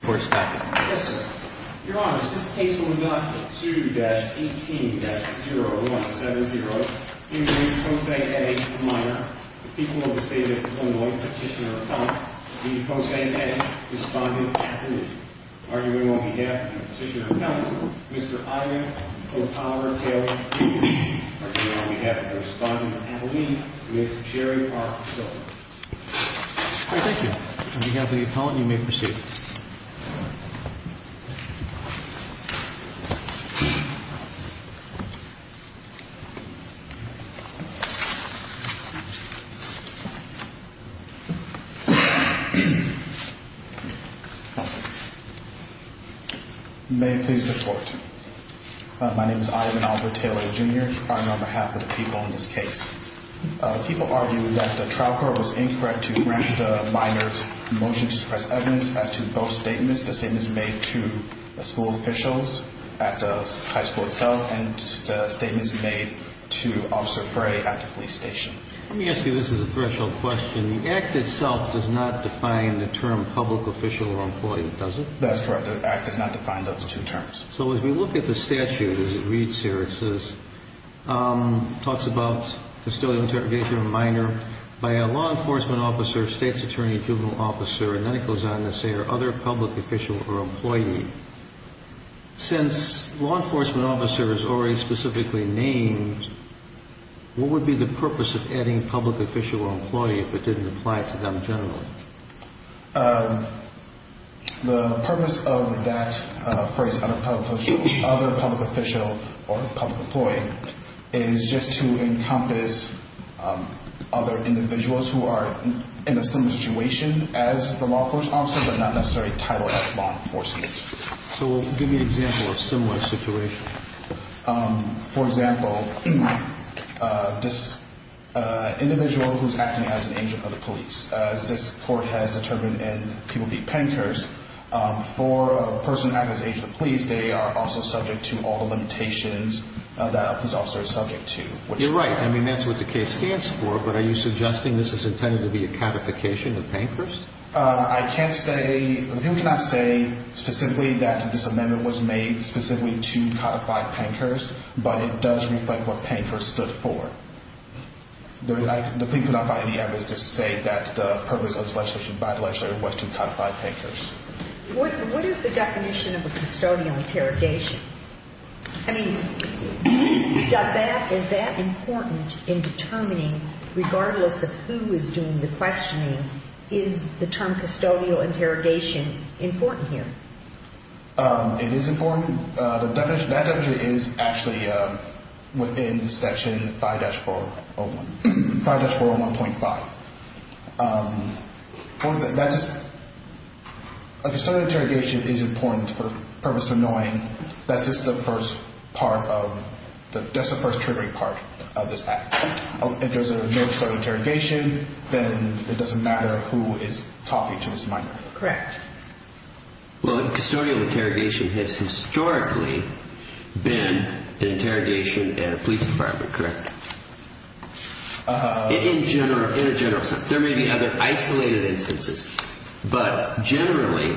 for stopping your honours case left two dash eighteen zero one seven zero the people of the state of Illinois Petitioner Appellant, D.J. Posey Hedges, Respondent of Appalachian, arguing on behalf of the Petitioner Appellant, Mr. Ivan O'Connor Taylor, arguing on behalf of the Respondent of Appalachia, Mr. Jerry R. Silver. Thank you. On behalf of the appellant you may proceed. May it please the court. My name is Ivan Oliver Taylor, Jr. I'm on behalf of the people in this case. People argue that the trial court was incorrect to grant the minor's motion to suppress evidence as to both statements. The statements made to school officials at the high school itself and statements made to Officer Frey at the police station. Let me ask you, this is a threshold question. The act itself does not define the term public official or employee, does it? That's correct. The act does not define those two terms. So as we look at the statute as it reads here, it says, talks about custodial interrogation of a minor by a law enforcement officer, state's attorney, juvenile officer, and then it goes on to say other public official or employee. Since law enforcement officer is already specifically named, what would be the purpose of adding public official or employee if it didn't apply to them generally? The purpose of that phrase, other public official or public employee, is just to encompass other individuals who are in a similar situation as the law enforcement officer but not necessarily titled as law enforcement. So give me an example of a similar situation. For example, this individual who's acting as an agent of the police, as this court has determined in People v. Pankhurst, for a person acting as an agent of the police, they are also subject to all the limitations that a police officer is subject to. You're right. I mean, that's what the case stands for, but are you suggesting this is intended to be a codification of Pankhurst? I can't say – the people cannot say specifically that this amendment was made specifically to codify Pankhurst, but it does reflect what Pankhurst stood for. The people cannot find any evidence to say that the purpose of this legislation by the legislature was to codify Pankhurst. What is the definition of a custodial interrogation? I mean, does that – is that important in determining, regardless of who is doing the questioning, is the term custodial interrogation important here? It is important. The definition – that definition is actually within Section 5-401 – 5-401.5. A custodial interrogation is important for the purpose of knowing that this is the first part of – that's the first triggering part of this act. If there's no custodial interrogation, then it doesn't matter who is talking to this minor. Correct. Well, a custodial interrogation has historically been an interrogation at a police department, correct? In general – in a general sense. There may be other isolated instances, but generally,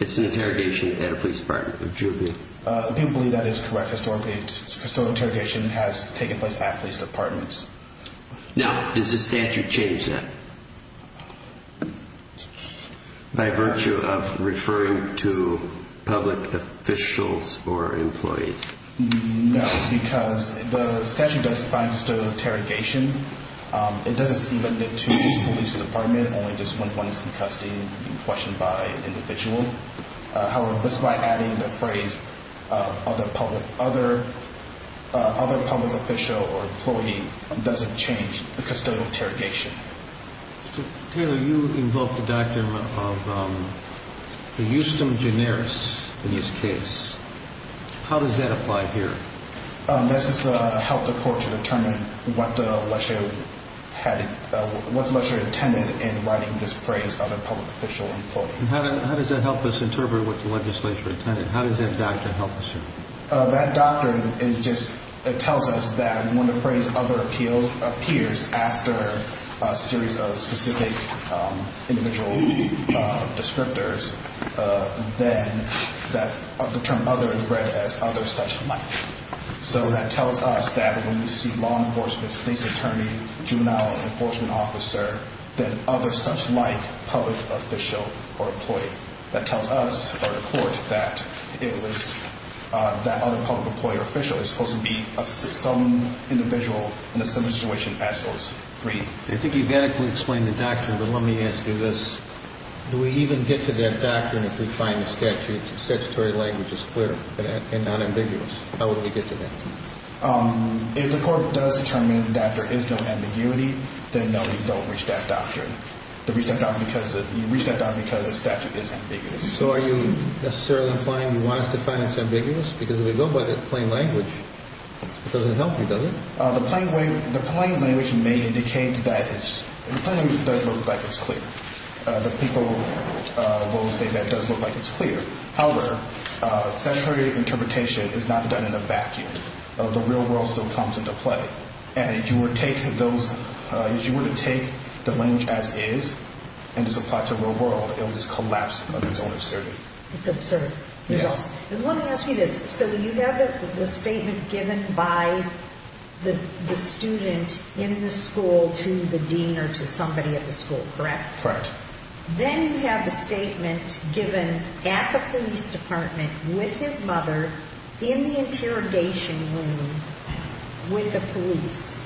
it's an interrogation at a police department. People believe that is correct. Historically, custodial interrogation has taken place at police departments. Now, does the statute change that by virtue of referring to public officials or employees? No, because the statute does define custodial interrogation. It doesn't even limit to police department, only just when one is in custody and being questioned by an individual. However, just by adding the phrase other public – other public official or employee doesn't change the custodial interrogation. Mr. Taylor, you invoked the doctrine of the justum generis in this case. How does that apply here? This is to help the court to determine what the lecture had – what the lecture intended in writing this phrase other public official employee. How does that help us interpret what the legislature intended? How does that doctrine help us here? That doctrine is just – it tells us that when the phrase other appeals – appears after a series of specific individual descriptors, then that – the term other is read as other such like. So that tells us that when we see law enforcement, state's attorney, juvenile enforcement officer, then other such like public official or employee. That tells us or the court that it was – that other public employer official is supposed to be some individual in a similar situation as those three. I think you've adequately explained the doctrine, but let me ask you this. Do we even get to that doctrine if we find the statute's statutory language is clear and not ambiguous? How would we get to that? If the court does determine that there is no ambiguity, then no, you don't reach that doctrine. You reach that doctrine because the statute is ambiguous. So are you necessarily implying you want us to find it's ambiguous? Because if we go by the plain language, it doesn't help you, does it? The plain language may indicate that it's – the plain language does look like it's clear. The people will say that it does look like it's clear. However, statutory interpretation is not done in a vacuum. The real world still comes into play. And if you were to take those – if you were to take the language as is and just apply it to the real world, it would just collapse under its own absurdity. It's absurd. Yes. Let me ask you this. So you have the statement given by the student in the school to the dean or to somebody at the school, correct? Correct. Then you have the statement given at the police department with his mother in the interrogation room with the police.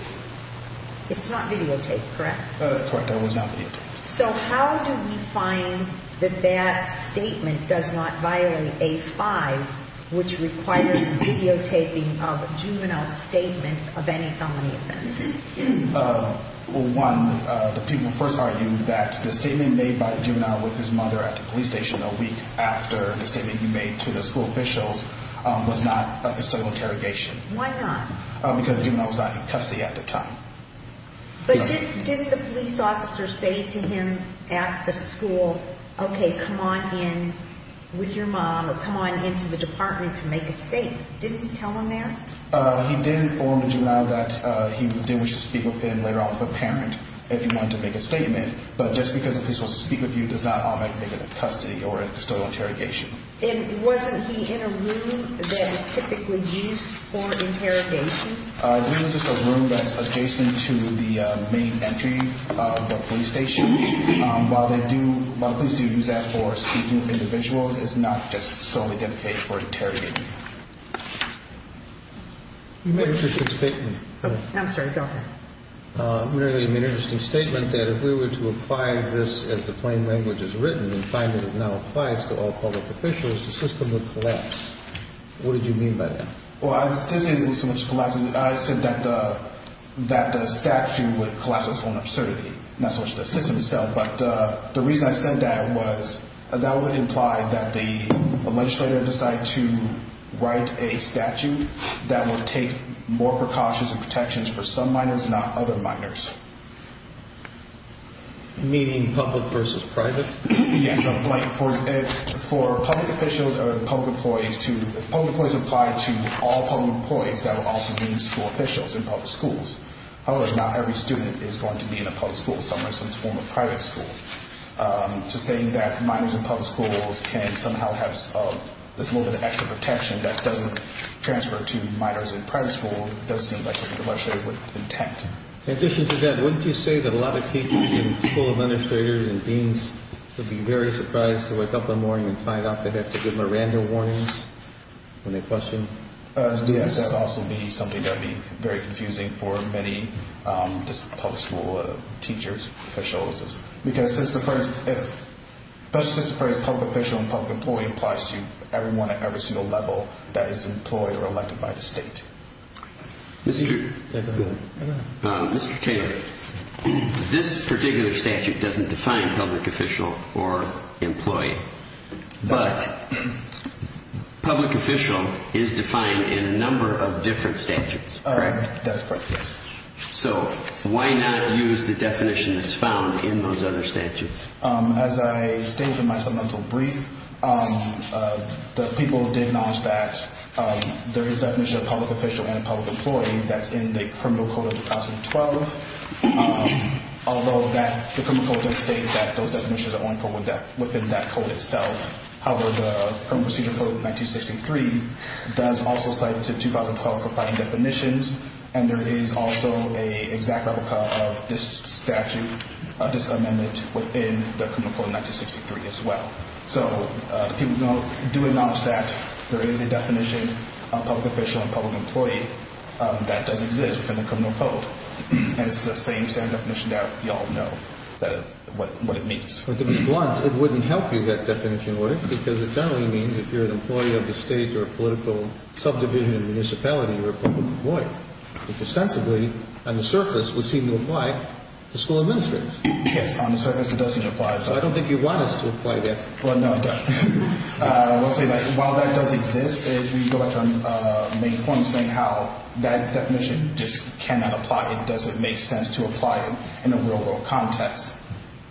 It's not videotaped, correct? That is correct. That was not videotaped. So how do we find that that statement does not violate 8-5, which requires videotaping of a juvenile statement of any felony offense? Well, one, the people first argued that the statement made by the juvenile with his mother at the police station a week after the statement he made to the school officials was not a historical interrogation. Why not? Because the juvenile was not in custody at the time. But didn't the police officer say to him at the school, okay, come on in with your mom or come on into the department to make a statement? Didn't he tell him that? He did inform the juvenile that he did wish to speak with him later on with a parent if he wanted to make a statement. But just because a police officer speaks with you does not make it a custody or a custodial interrogation. And wasn't he in a room that is typically used for interrogations? I believe it's just a room that's adjacent to the main entry of the police station. While police do use that for speaking with individuals, it's not just solely dedicated for interrogating. You made an interesting statement. I'm sorry, go ahead. You made an interesting statement that if we were to apply this as the plain language is written and find that it now applies to all public officials, the system would collapse. What did you mean by that? Well, I didn't say that it would collapse. I said that the statute would collapse on its own absurdity, not so much the system itself. But the reason I said that was that would imply that the legislator decided to write a statute that would take more precautions and protections for some minors, not other minors. Meaning public versus private? Yes, like for public officials or public employees to – public employees apply to all public employees. That would also mean school officials in public schools. However, not every student is going to be in a public school, some form of private school. So saying that minors in public schools can somehow have this little bit of extra protection that doesn't transfer to minors in private schools does seem like something the legislator would intend. In addition to that, wouldn't you say that a lot of teachers and school administrators and deans would be very surprised to wake up one morning and find out they have to give Miranda warnings when they question? Yes, that would also be something that would be very confusing for many public school teachers, officials, because since the phrase public official and public employee applies to everyone at every single level that is employed or elected by the state. Mr. Taylor, this particular statute doesn't define public official or employee, but public official is defined in a number of different statutes, correct? That's correct, yes. So why not use the definition that's found in those other statutes? As I stated in my submental brief, the people did acknowledge that there is a definition of public official and public employee that's in the Criminal Code of 2012, although the Criminal Code does state that those definitions are only within that code itself. However, the Criminal Procedure Code of 1963 does also cite 2012 for fighting definitions, and there is also an exact replica of this statute, this amendment within the Criminal Code of 1963 as well. So the people do acknowledge that there is a definition of public official and public employee that does exist within the Criminal Code, and it's the same standard definition that you all know what it means. To be blunt, it wouldn't help you get that definition in order, because it generally means if you're an employee of the state or a political subdivision or municipality, you're a public employee, which ostensibly, on the surface, would seem to apply to school administrators. Yes, on the surface, it doesn't apply. So I don't think you want us to apply that. Well, no, I don't. I will say that while that does exist, we go back to our main point of saying how that definition just cannot apply. It doesn't make sense to apply it in a real-world context.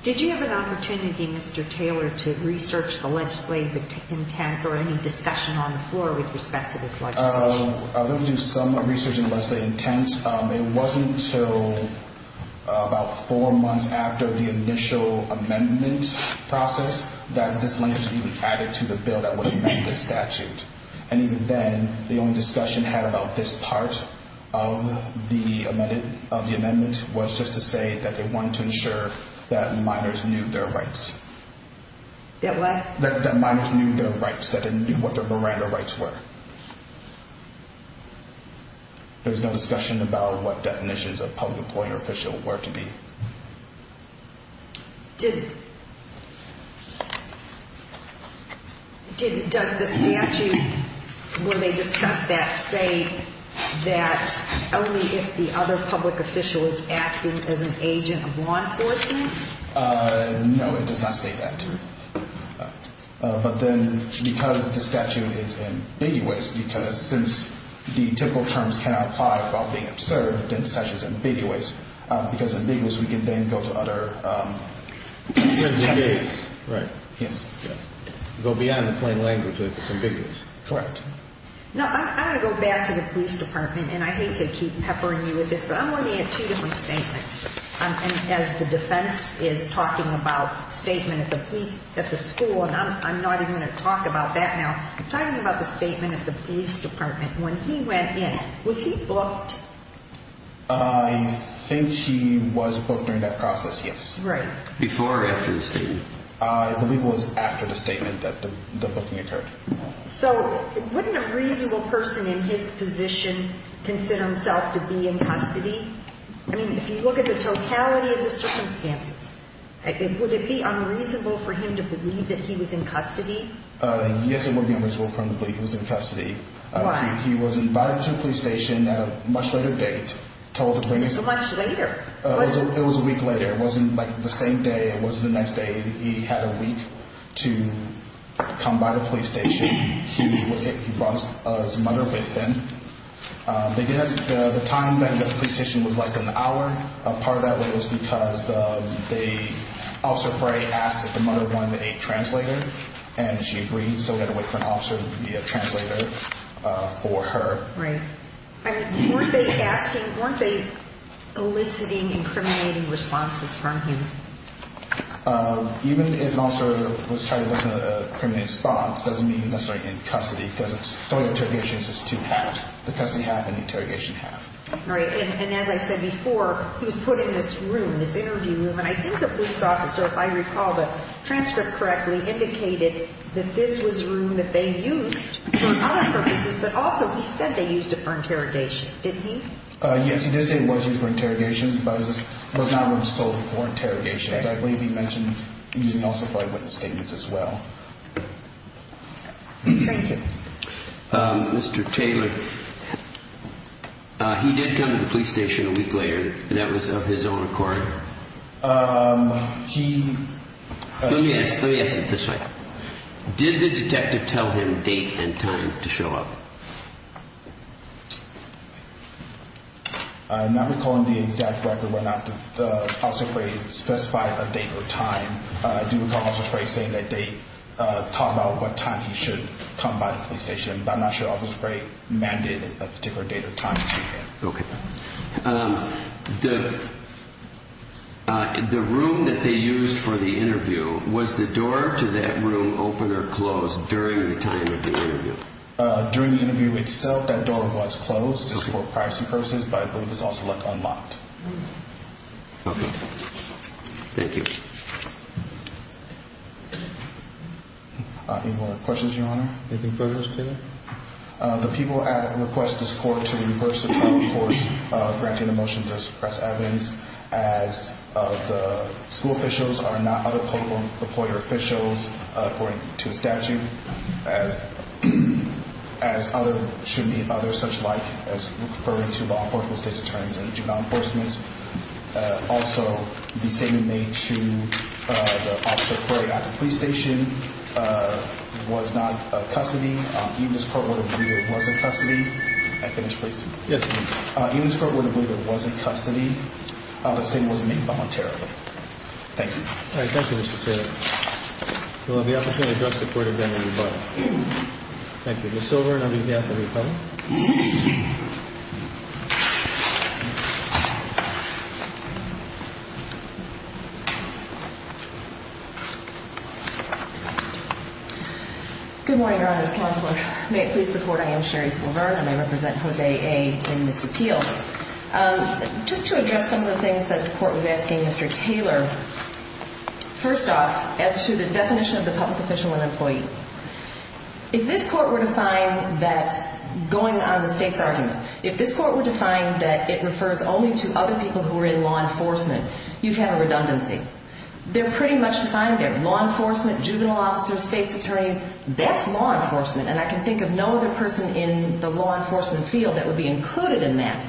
Did you have an opportunity, Mr. Taylor, to research the legislative intent or any discussion on the floor with respect to this legislation? We did some research on the legislative intent. It wasn't until about four months after the initial amendment process that this language was even added to the bill that would amend the statute. And even then, the only discussion had about this part of the amendment was just to say that they wanted to ensure that minors knew their rights. That what? That minors knew their rights, that they knew what their Miranda rights were. There was no discussion about what definitions of public employee or official were to be. Does the statute, when they discuss that, say that only if the other public official is acting as an agent of law enforcement? No, it does not say that. But then, because the statute is ambiguous, because since the typical terms cannot apply without being absurd, then the statute is ambiguous. Because it's ambiguous, we can then go to other techniques. Right. Yes. Go beyond the plain language if it's ambiguous. Correct. No, I'm going to go back to the police department, and I hate to keep peppering you with this, but I'm going to add two different statements. And as the defense is talking about statement at the school, and I'm not even going to talk about that now. I'm talking about the statement at the police department. When he went in, was he booked? I think he was booked during that process, yes. Right. Before or after the statement? I believe it was after the statement that the booking occurred. So wouldn't a reasonable person in his position consider himself to be in custody? I mean, if you look at the totality of the circumstances, would it be unreasonable for him to believe that he was in custody? Yes, it would be unreasonable for him to believe he was in custody. Why? He was invited to the police station at a much later date. Much later? It was a week later. It wasn't, like, the same day. It wasn't the next day. He had a week to come by the police station. He brought his mother with him. They did. The time that he got to the police station was less than an hour. Part of that was because Officer Frey asked if the mother wanted a translator, and she agreed, so we had to wait for an officer to be a translator for her. Right. I mean, weren't they asking, weren't they eliciting incriminating responses from him? Even if an officer was trying to elicit an incriminating response, it doesn't mean he's necessarily in custody because the total interrogations is two halves, the custody half and the interrogation half. Right, and as I said before, he was put in this room, this interview room, and I think the police officer, if I recall the transcript correctly, indicated that this was a room that they used for other purposes, but also he said they used it for interrogations, didn't he? Yes, he did say it was used for interrogations, but it was not one sold for interrogations. I believe he mentioned using it also for eyewitness statements as well. Thank you. Mr. Taylor, he did come to the police station a week later, and that was of his own accord. He... Let me ask it this way. Did the detective tell him date and time to show up? I'm not recalling the exact record, but Officer Frey specified a date or time. I do recall Officer Frey saying that they talked about what time he should come by the police station, but I'm not sure Officer Frey mandated a particular date or time to see him. Okay. The room that they used for the interview, was the door to that room open or closed during the time of the interview? During the interview itself, that door was closed just for privacy purposes, but I believe it's also unlocked. Okay. Thank you. Any more questions, Your Honor? Anything further, Mr. Taylor? The people at request to support to reverse the trial course granting the motion to press Evans as the school officials are not other political employer officials, according to the statute, as other should be other such like, as referring to law enforcement state's attorneys and juvenile enforcement. Also, the statement made to Officer Frey at the police station was not a custody. Even this court would have believed it wasn't custody. Can I finish, please? Yes, please. Even this court would have believed it wasn't custody. The statement was made voluntarily. Thank you. All right. Thank you, Mr. Taylor. We'll have the opportunity to address the court again at the rebuttal. Thank you. Ms. Silver, and I'll be at the rebuttal. Good morning, Your Honor's Counselor. May it please the Court, I am Sherry Silver, and I represent Jose A. in this appeal. Just to address some of the things that the Court was asking Mr. Taylor, first off, as to the definition of the public official and employee, if this Court were to find that going on the state's argument, if this Court were to find that it refers only to other people who are in law enforcement, you'd have a redundancy. They're pretty much defined there. Law enforcement, juvenile officers, state's attorneys, that's law enforcement, and I can think of no other person in the law enforcement field that would be included in that.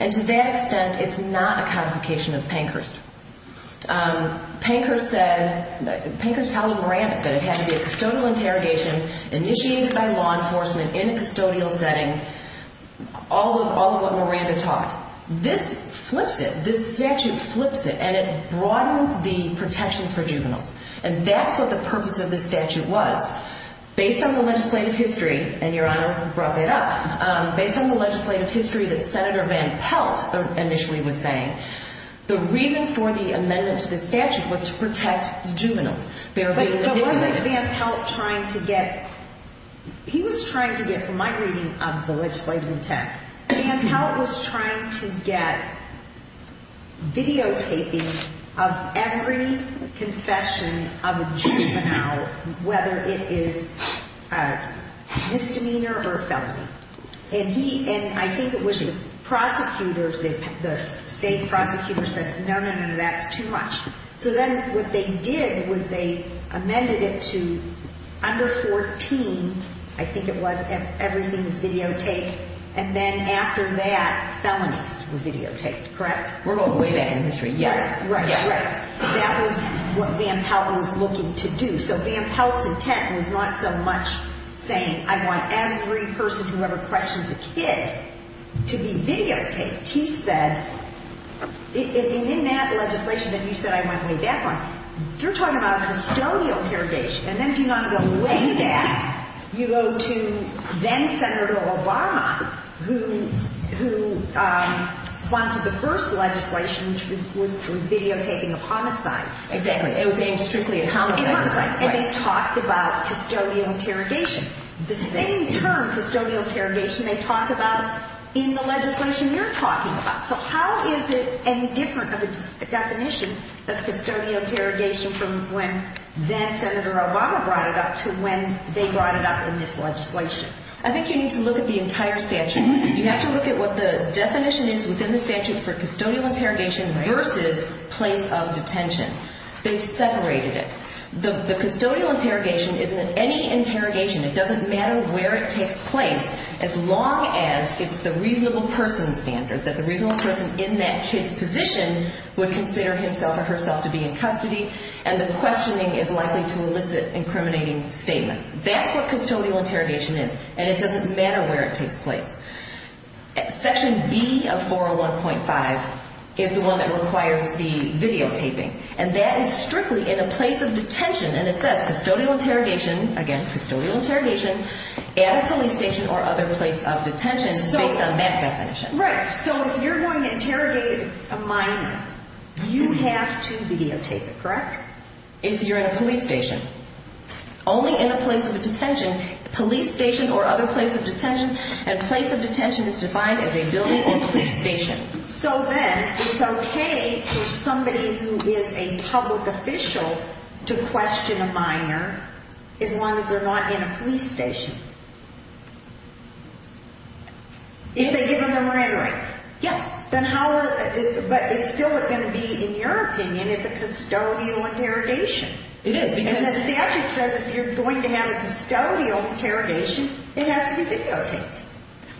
And to that extent, it's not a codification of Pankhurst. Pankhurst said, Pankhurst told Miranda that it had to be a custodial interrogation initiated by law enforcement in a custodial setting, all of what Miranda taught. This flips it. This statute flips it, and it broadens the protections for juveniles. And that's what the purpose of this statute was. Based on the legislative history, and Your Honor brought that up, based on the legislative history that Senator Van Pelt initially was saying, the reason for the amendment to this statute was to protect the juveniles. But wasn't Van Pelt trying to get, he was trying to get, from my reading of the legislative intent, Van Pelt was trying to get videotaping of every confession of a juvenile, whether it is a misdemeanor or a felony. And he, and I think it was the prosecutors, the state prosecutors said, no, no, no, that's too much. So then what they did was they amended it to under 14, I think it was, everything is videotaped, and then after that, felonies were videotaped, correct? We're going way back in history, yes. That was what Van Pelt was looking to do. So Van Pelt's intent was not so much saying I want every person who ever questions a kid to be videotaped. He said, and in that legislation that you said I went way back on, you're talking about a custodial interrogation. And then if you want to go way back, you go to then-Senator Obama, who sponsored the first legislation which was videotaping of homicides. Exactly. It was aimed strictly at homicides. And they talked about custodial interrogation. The same term, custodial interrogation, they talk about in the legislation you're talking about. So how is it any different of a definition of custodial interrogation from when then-Senator Obama brought it up to when they brought it up in this legislation? I think you need to look at the entire statute. You have to look at what the definition is within the statute for custodial interrogation versus place of detention. They've separated it. The custodial interrogation isn't any interrogation. It doesn't matter where it takes place as long as it's the reasonable person standard, that the reasonable person in that kid's position would consider himself or herself to be in custody, and the questioning is likely to elicit incriminating statements. That's what custodial interrogation is. And it doesn't matter where it takes place. Section B of 401.5 is the one that requires the videotaping. And that is strictly in a place of detention. And it says custodial interrogation, again, custodial interrogation at a police station or other place of detention based on that definition. Right. So if you're going to interrogate a minor, you have to videotape it, correct? If you're in a police station. Only in a place of detention, police station or other place of detention, and place of detention is defined as a building or police station. So then it's okay for somebody who is a public official to question a minor as long as they're not in a police station. If they give them their marine rights. Yes. But it's still going to be, in your opinion, it's a custodial interrogation. It is. Because the statute says if you're going to have a custodial interrogation, it has to be videotaped.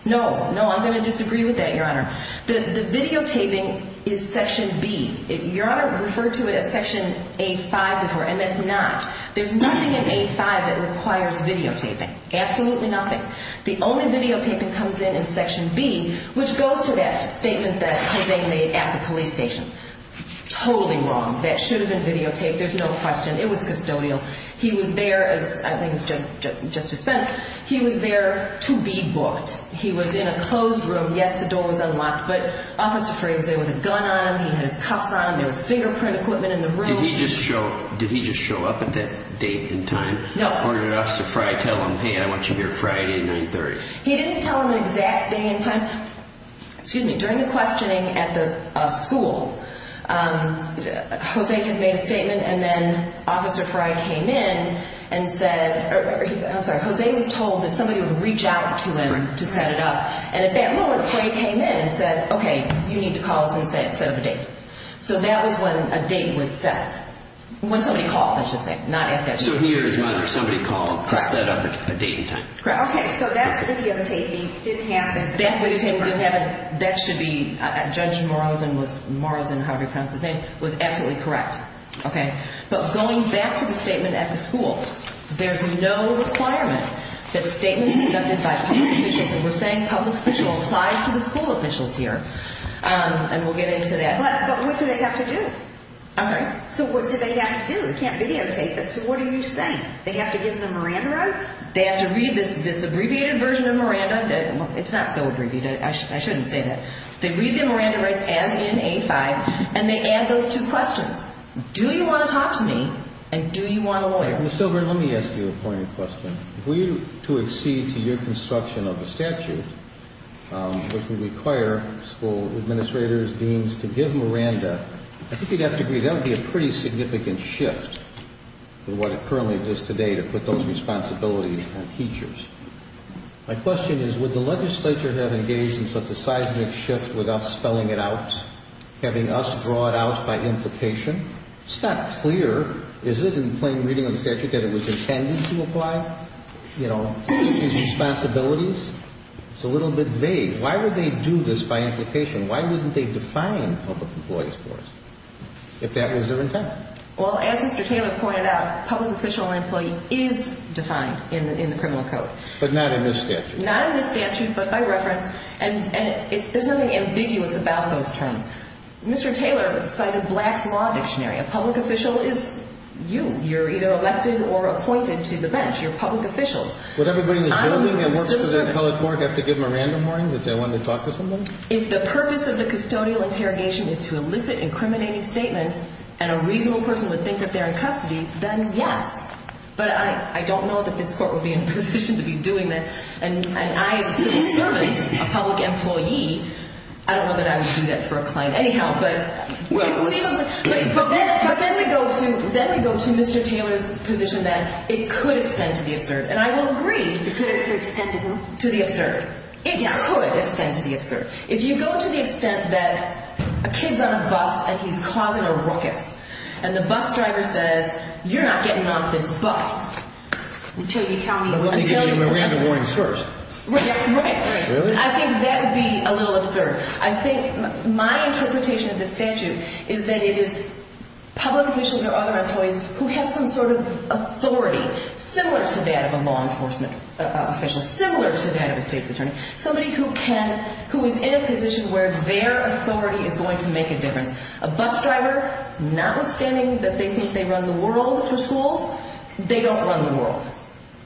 No. No, I'm going to disagree with that, Your Honor. The videotaping is Section B. Your Honor referred to it as Section A-5 before, and it's not. There's nothing in A-5 that requires videotaping. Absolutely nothing. The only videotaping comes in in Section B, which goes to that statement that Jose made at the police station. Totally wrong. That should have been videotaped. There's no question. It was custodial. He was there, as I think it was Justice Spence, he was there to be booked. He was in a closed room. Yes, the door was unlocked, but Officer Frey was there with a gun on him. He had his cuffs on him. There was fingerprint equipment in the room. Did he just show up at that date and time? No. Or did Officer Frey tell him, hey, I want you here Friday at 930? He didn't tell him the exact day and time. Excuse me. During the questioning at the school, Jose had made a statement, and then Officer Frey came in and said, I'm sorry, Jose was told that somebody would reach out to him to set it up. And at that moment, Frey came in and said, okay, you need to call us and set up a date. So that was when a date was set, when somebody called, I should say, not at that meeting. So here is when somebody called to set up a date and time. Okay, so that's videotaping. That's videotaping. Didn't happen. That's videotaping. Didn't happen. That should be Judge Morrison, however you pronounce his name, was absolutely correct. Okay. But going back to the statement at the school, there's no requirement that statements conducted by public officials, and we're saying public official applies to the school officials here, and we'll get into that. But what do they have to do? I'm sorry? So what do they have to do? They can't videotape it. So what are you saying? They have to give them Miranda rights? They have to read this abbreviated version of Miranda? It's not so abbreviated. I shouldn't say that. They read the Miranda rights as in A5, and they add those two questions. Do you want to talk to me, and do you want a lawyer? Ms. Silver, let me ask you a pointed question. Were you to accede to your construction of the statute, which would require school administrators, deans, to give Miranda, I think you'd have to agree that would be a pretty significant shift in what currently exists today to put those responsibilities on teachers. My question is, would the legislature have engaged in such a seismic shift without spelling it out, having us draw it out by implication? It's not clear, is it, in plain reading of the statute, that it was intended to apply, you know, teachers' responsibilities? It's a little bit vague. Why would they do this by implication? Why wouldn't they define public employees for us if that was their intent? Well, as Mr. Taylor pointed out, public official employee is defined in the criminal code. But not in this statute. Not in this statute, but by reference. And there's nothing ambiguous about those terms. Mr. Taylor cited Black's Law Dictionary. A public official is you. You're either elected or appointed to the bench. You're public officials. Would everybody in this building that works for that public court have to give Miranda warnings if they wanted to talk to someone? If the purpose of the custodial interrogation is to elicit incriminating statements and a reasonable person would think that they're in custody, then yes. But I don't know that this court would be in a position to be doing that. And I, as a civil servant, a public employee, I don't know that I would do that for a client anyhow. But then we go to Mr. Taylor's position that it could extend to the absurd. And I will agree to the absurd. It could extend to the absurd. If you go to the extent that a kid's on a bus and he's causing a ruckus and the bus driver says, you're not getting off this bus until you tell me what to do. But we'll need to give Miranda warnings first. Right, right, right. Really? I think that would be a little absurd. I think my interpretation of this statute is that it is public officials or other employees who have some sort of authority similar to that of a law enforcement official, similar to that of a state's attorney. Somebody who can, who is in a position where their authority is going to make a difference. A bus driver, notwithstanding that they think they run the world for schools, they don't run the world.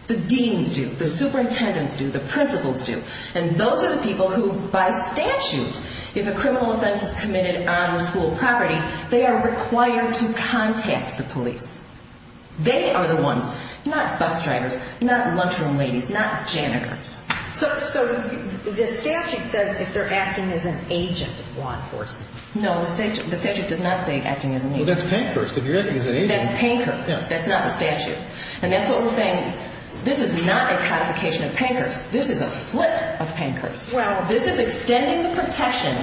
The deans do. The superintendents do. The principals do. And those are the people who, by statute, if a criminal offense is committed on school property, they are required to contact the police. They are the ones, not bus drivers, not lunchroom ladies, not janitors. So the statute says if they're acting as an agent of law enforcement. No, the statute does not say acting as an agent. Well, that's Pankhurst. If you're acting as an agent. That's Pankhurst. That's not the statute. And that's what we're saying. This is not a codification of Pankhurst. This is a flip of Pankhurst. Well, this is extending the protection,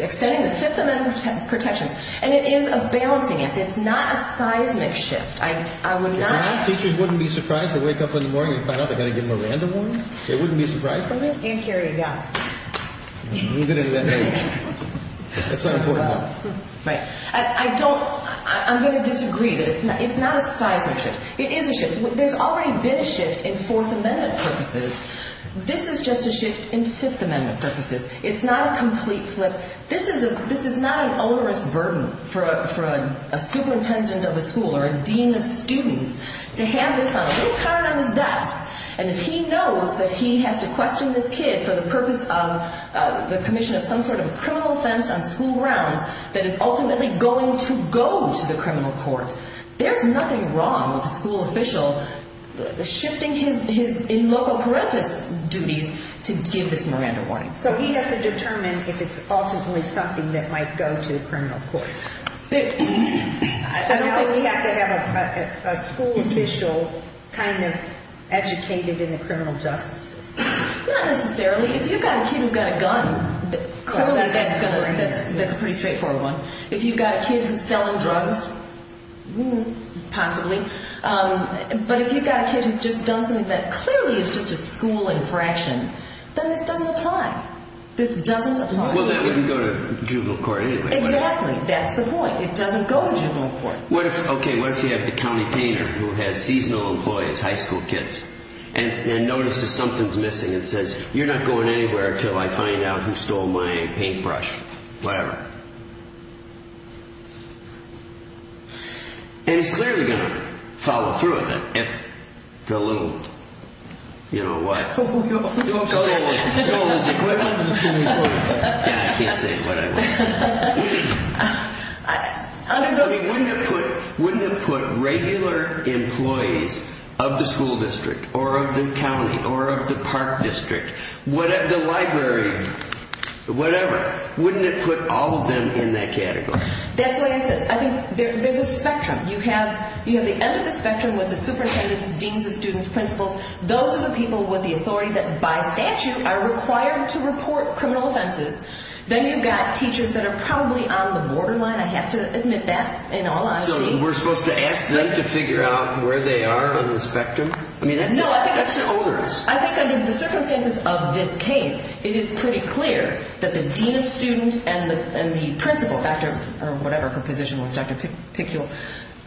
extending the Fifth Amendment protections. And it is a balancing act. It's not a seismic shift. I would not. Teachers wouldn't be surprised to wake up in the morning and find out they're going to get more random warnings? They wouldn't be surprised by this? And here you go. You're going to invent a new one. It's an important one. Right. I don't, I'm going to disagree. It's not a seismic shift. It is a shift. There's already been a shift in Fourth Amendment purposes. This is just a shift in Fifth Amendment purposes. It's not a complete flip. This is not an onerous burden for a superintendent of a school or a dean of students to have this on a little card on his desk. And if he knows that he has to question this kid for the purpose of the commission of some sort of criminal offense on school grounds that is ultimately going to go to the criminal court, there's nothing wrong with a school official shifting his in loco parentis duties to give this Miranda warning. So he has to determine if it's ultimately something that might go to the criminal courts. So now we have to have a school official kind of educated in the criminal justice system. Not necessarily. If you've got a kid who's got a gun, clearly that's going to, that's a pretty straightforward one. If you've got a kid who's selling drugs, possibly. But if you've got a kid who's just done something that clearly is just a school infraction, then this doesn't apply. This doesn't apply. Well, that wouldn't go to juvenile court anyway. Exactly. That's the point. It doesn't go to juvenile court. What if, okay, what if you have the county painter who has seasonal employees, high school kids, and notices something's missing and says, you're not going anywhere until I find out who stole my paintbrush, whatever. And he's clearly going to follow through with it if the little, you know what, stole his equipment. Yeah, I can't say what I would say. I mean, wouldn't it put regular employees of the school district or of the county or of the park district, the library, whatever, wouldn't it put all of them in that category? That's what I said. I think there's a spectrum. You have the end of the spectrum with the superintendents, deans of students, principals. Those are the people with the authority that by statute are required to report criminal offenses. Then you've got teachers that are probably on the borderline. I have to admit that in all honesty. So we're supposed to ask them to figure out where they are on the spectrum? No, I think that's the owners. I think under the circumstances of this case, it is pretty clear that the dean of students and the principal, or whatever her position was, Dr. Pickul,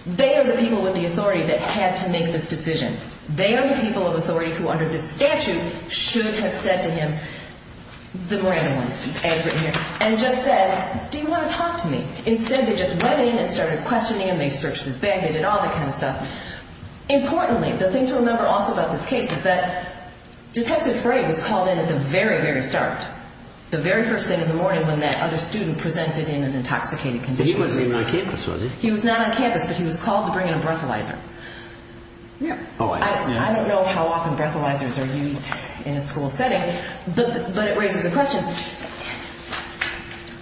they are the people with the authority that had to make this decision. They are the people of authority who under this statute should have said to him, the Miranda ones, as written here, and just said, do you want to talk to me? Instead, they just went in and started questioning him. They searched his bag. They did all that kind of stuff. Importantly, the thing to remember also about this case is that Detective Frey was called in at the very, very start, the very first thing in the morning when that other student presented in an intoxicated condition. He wasn't even on campus, was he? He was not on campus, but he was called to bring in a breathalyzer. I don't know how often breathalyzers are used in a school setting, but it raises a question.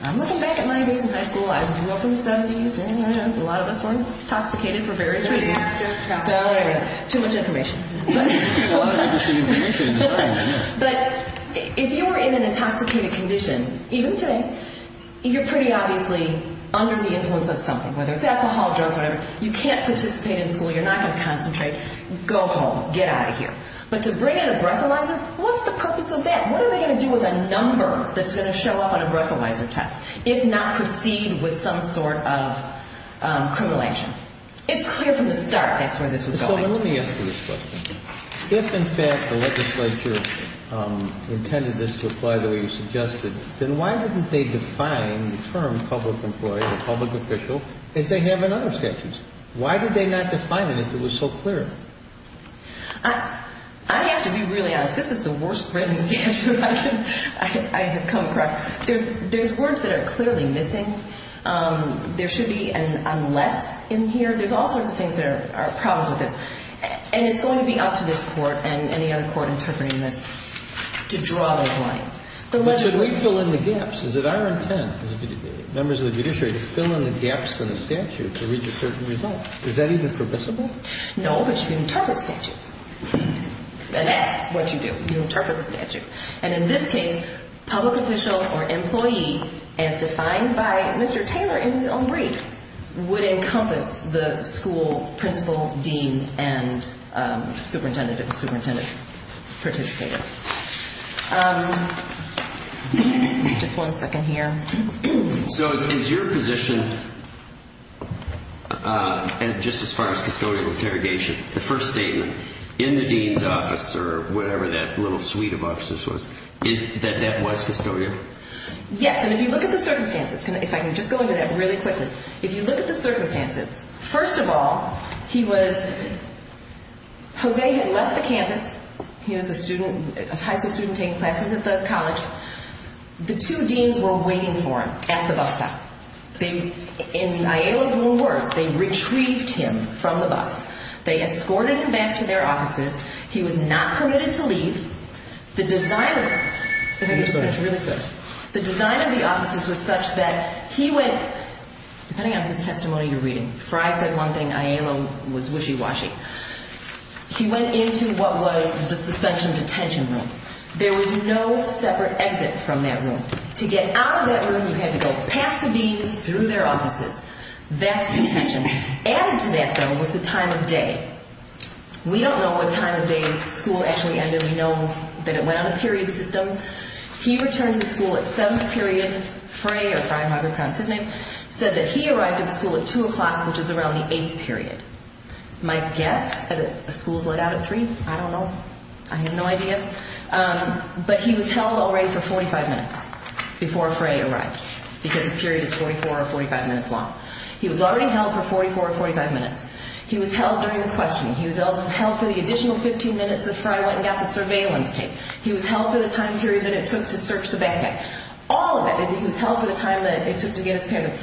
I'm looking back at my days in high school. I grew up in the 70s. A lot of us were intoxicated for various reasons. Too much information. But if you were in an intoxicated condition, even today, you're pretty obviously under the influence of something, whether it's alcohol, drugs, whatever. You can't participate in school. You're not going to concentrate. Go home. Get out of here. But to bring in a breathalyzer, what's the purpose of that? What are they going to do with a number that's going to show up on a breathalyzer test if not proceed with some sort of criminal action? It's clear from the start that's where this was going. Let me ask you this question. If, in fact, the legislature intended this to apply the way you suggested, then why didn't they define the term public employee or public official as they have in other statutes? Why did they not define it if it was so clear? I have to be really honest. This is the worst written statute I have come across. There's words that are clearly missing. There should be an unless in here. There's all sorts of things that are problems with this. And it's going to be up to this Court and any other Court interpreting this to draw those lines. But should we fill in the gaps? Is it our intent as members of the judiciary to fill in the gaps in the statute to reach a certain result? Is that even permissible? No, but you can interpret statutes. And that's what you do. You interpret the statute. And in this case, public official or employee, as defined by Mr. Taylor in his own brief, would encompass the school principal, dean, and superintendent if the superintendent participated. Just one second here. So is your position, just as far as custodial interrogation, the first statement, in the dean's office or whatever that little suite of offices was, that that was custodial? Yes. And if you look at the circumstances, if I can just go into that really quickly. If you look at the circumstances, first of all, he was – Jose had left the campus. He was a high school student taking classes at the college. The two deans were waiting for him at the bus stop. And Ayala's rule works. They retrieved him from the bus. They escorted him back to their offices. He was not permitted to leave. The design of the offices was such that he went – depending on whose testimony you're reading. Before I said one thing, Ayala was wishy-washy. He went into what was the suspension detention room. There was no separate exit from that room. To get out of that room, you had to go past the deans, through their offices. That's detention. Added to that, though, was the time of day. We don't know what time of day school actually ended. We know that it went on a period system. He returned to school at 7th period. Frey, or Frey, however pronounced his name, said that he arrived at school at 2 o'clock, which is around the 8th period. You might guess that a school's let out at 3. I don't know. I have no idea. But he was held already for 45 minutes before Frey arrived because the period is 44 or 45 minutes long. He was already held for 44 or 45 minutes. He was held during the questioning. He was held for the additional 15 minutes that Frey went and got the surveillance tape. He was held for the time period that it took to search the backpack. All of it. He was held for the time that it took to get his payment.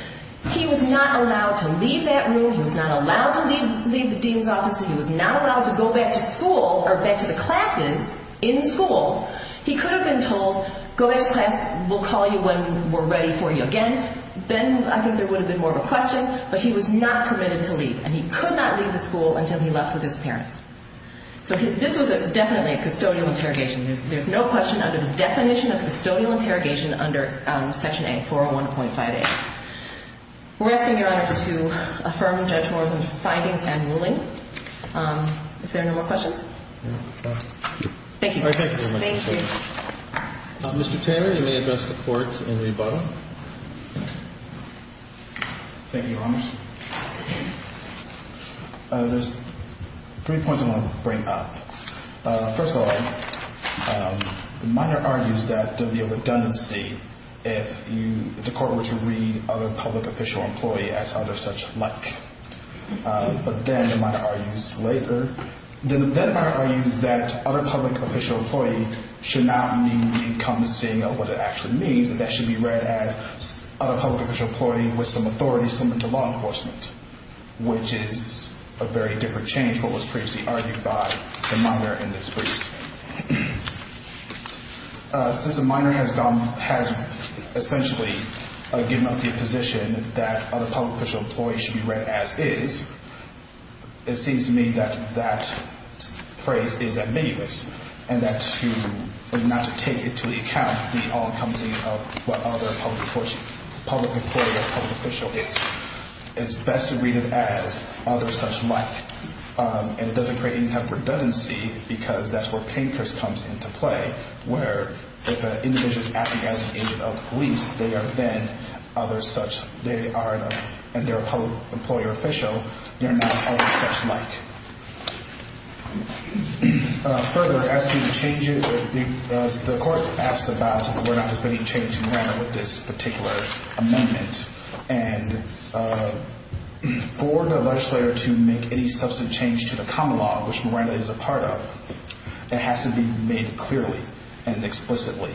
He was not allowed to leave that room. He was not allowed to leave the dean's office. He was not allowed to go back to school or back to the classes in school. He could have been told, go back to class. We'll call you when we're ready for you again. Then I think there would have been more of a question. But he was not permitted to leave. And he could not leave the school until he left with his parents. So this was definitely a custodial interrogation. There's no question under the definition of custodial interrogation under Section 8401.58. We're asking Your Honor to affirm Judge Morrison's findings and ruling. If there are no more questions. Thank you. Thank you very much. Thank you. Mr. Taylor, you may address the Court in the bottom. Thank you, Your Honor. There's three points I want to bring up. First of all, the minor argues that there would be a redundancy if the Court were to read other public official employee as other such like. But then the minor argues later. Then the minor argues that other public official employee should not need to come to seeing what it actually means. That that should be read as other public official employee with some authority similar to law enforcement, which is a very different change from what was previously argued by the minor in this brief. Since the minor has gone, has essentially given up the position that other public official employee should be read as is, it seems to me that that phrase is ominous. And that to, not to take into account the all-encompassing of what other public employee or public official is. It's best to read it as other such like. And it doesn't create any type of redundancy because that's where Pankhurst comes into play. Where if an individual is acting as an agent of the police, they are then other such, they are, and they're a public employer official, they're not other such like. Further, as to the changes, the Court asked about whether or not there's been any change in manner with this particular amendment. And for the legislator to make any substantive change to the common law, which Miranda is a part of, it has to be made clearly and explicitly.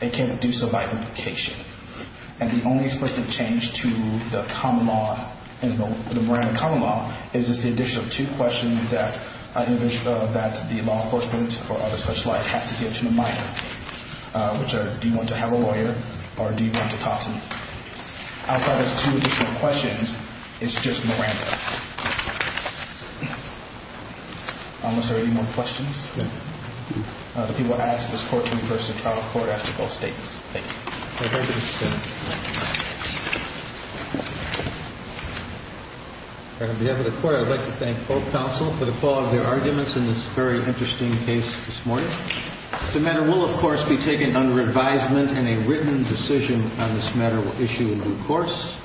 They can't do so by implication. And the only explicit change to the common law, the Miranda common law, is the addition of two questions that the law enforcement or other such like has to give to the minor. Which are, do you want to have a lawyer? Or do you want to talk to me? Outside of two additional questions, it's just Miranda. Unless there are any more questions? No. The people asked this Court to refer to the trial court after both statements. Thank you. On behalf of the Court, I'd like to thank both counsel for the quality of their arguments in this very interesting case this morning. The matter will, of course, be taken under advisement. And a written decision on this matter will issue in due course.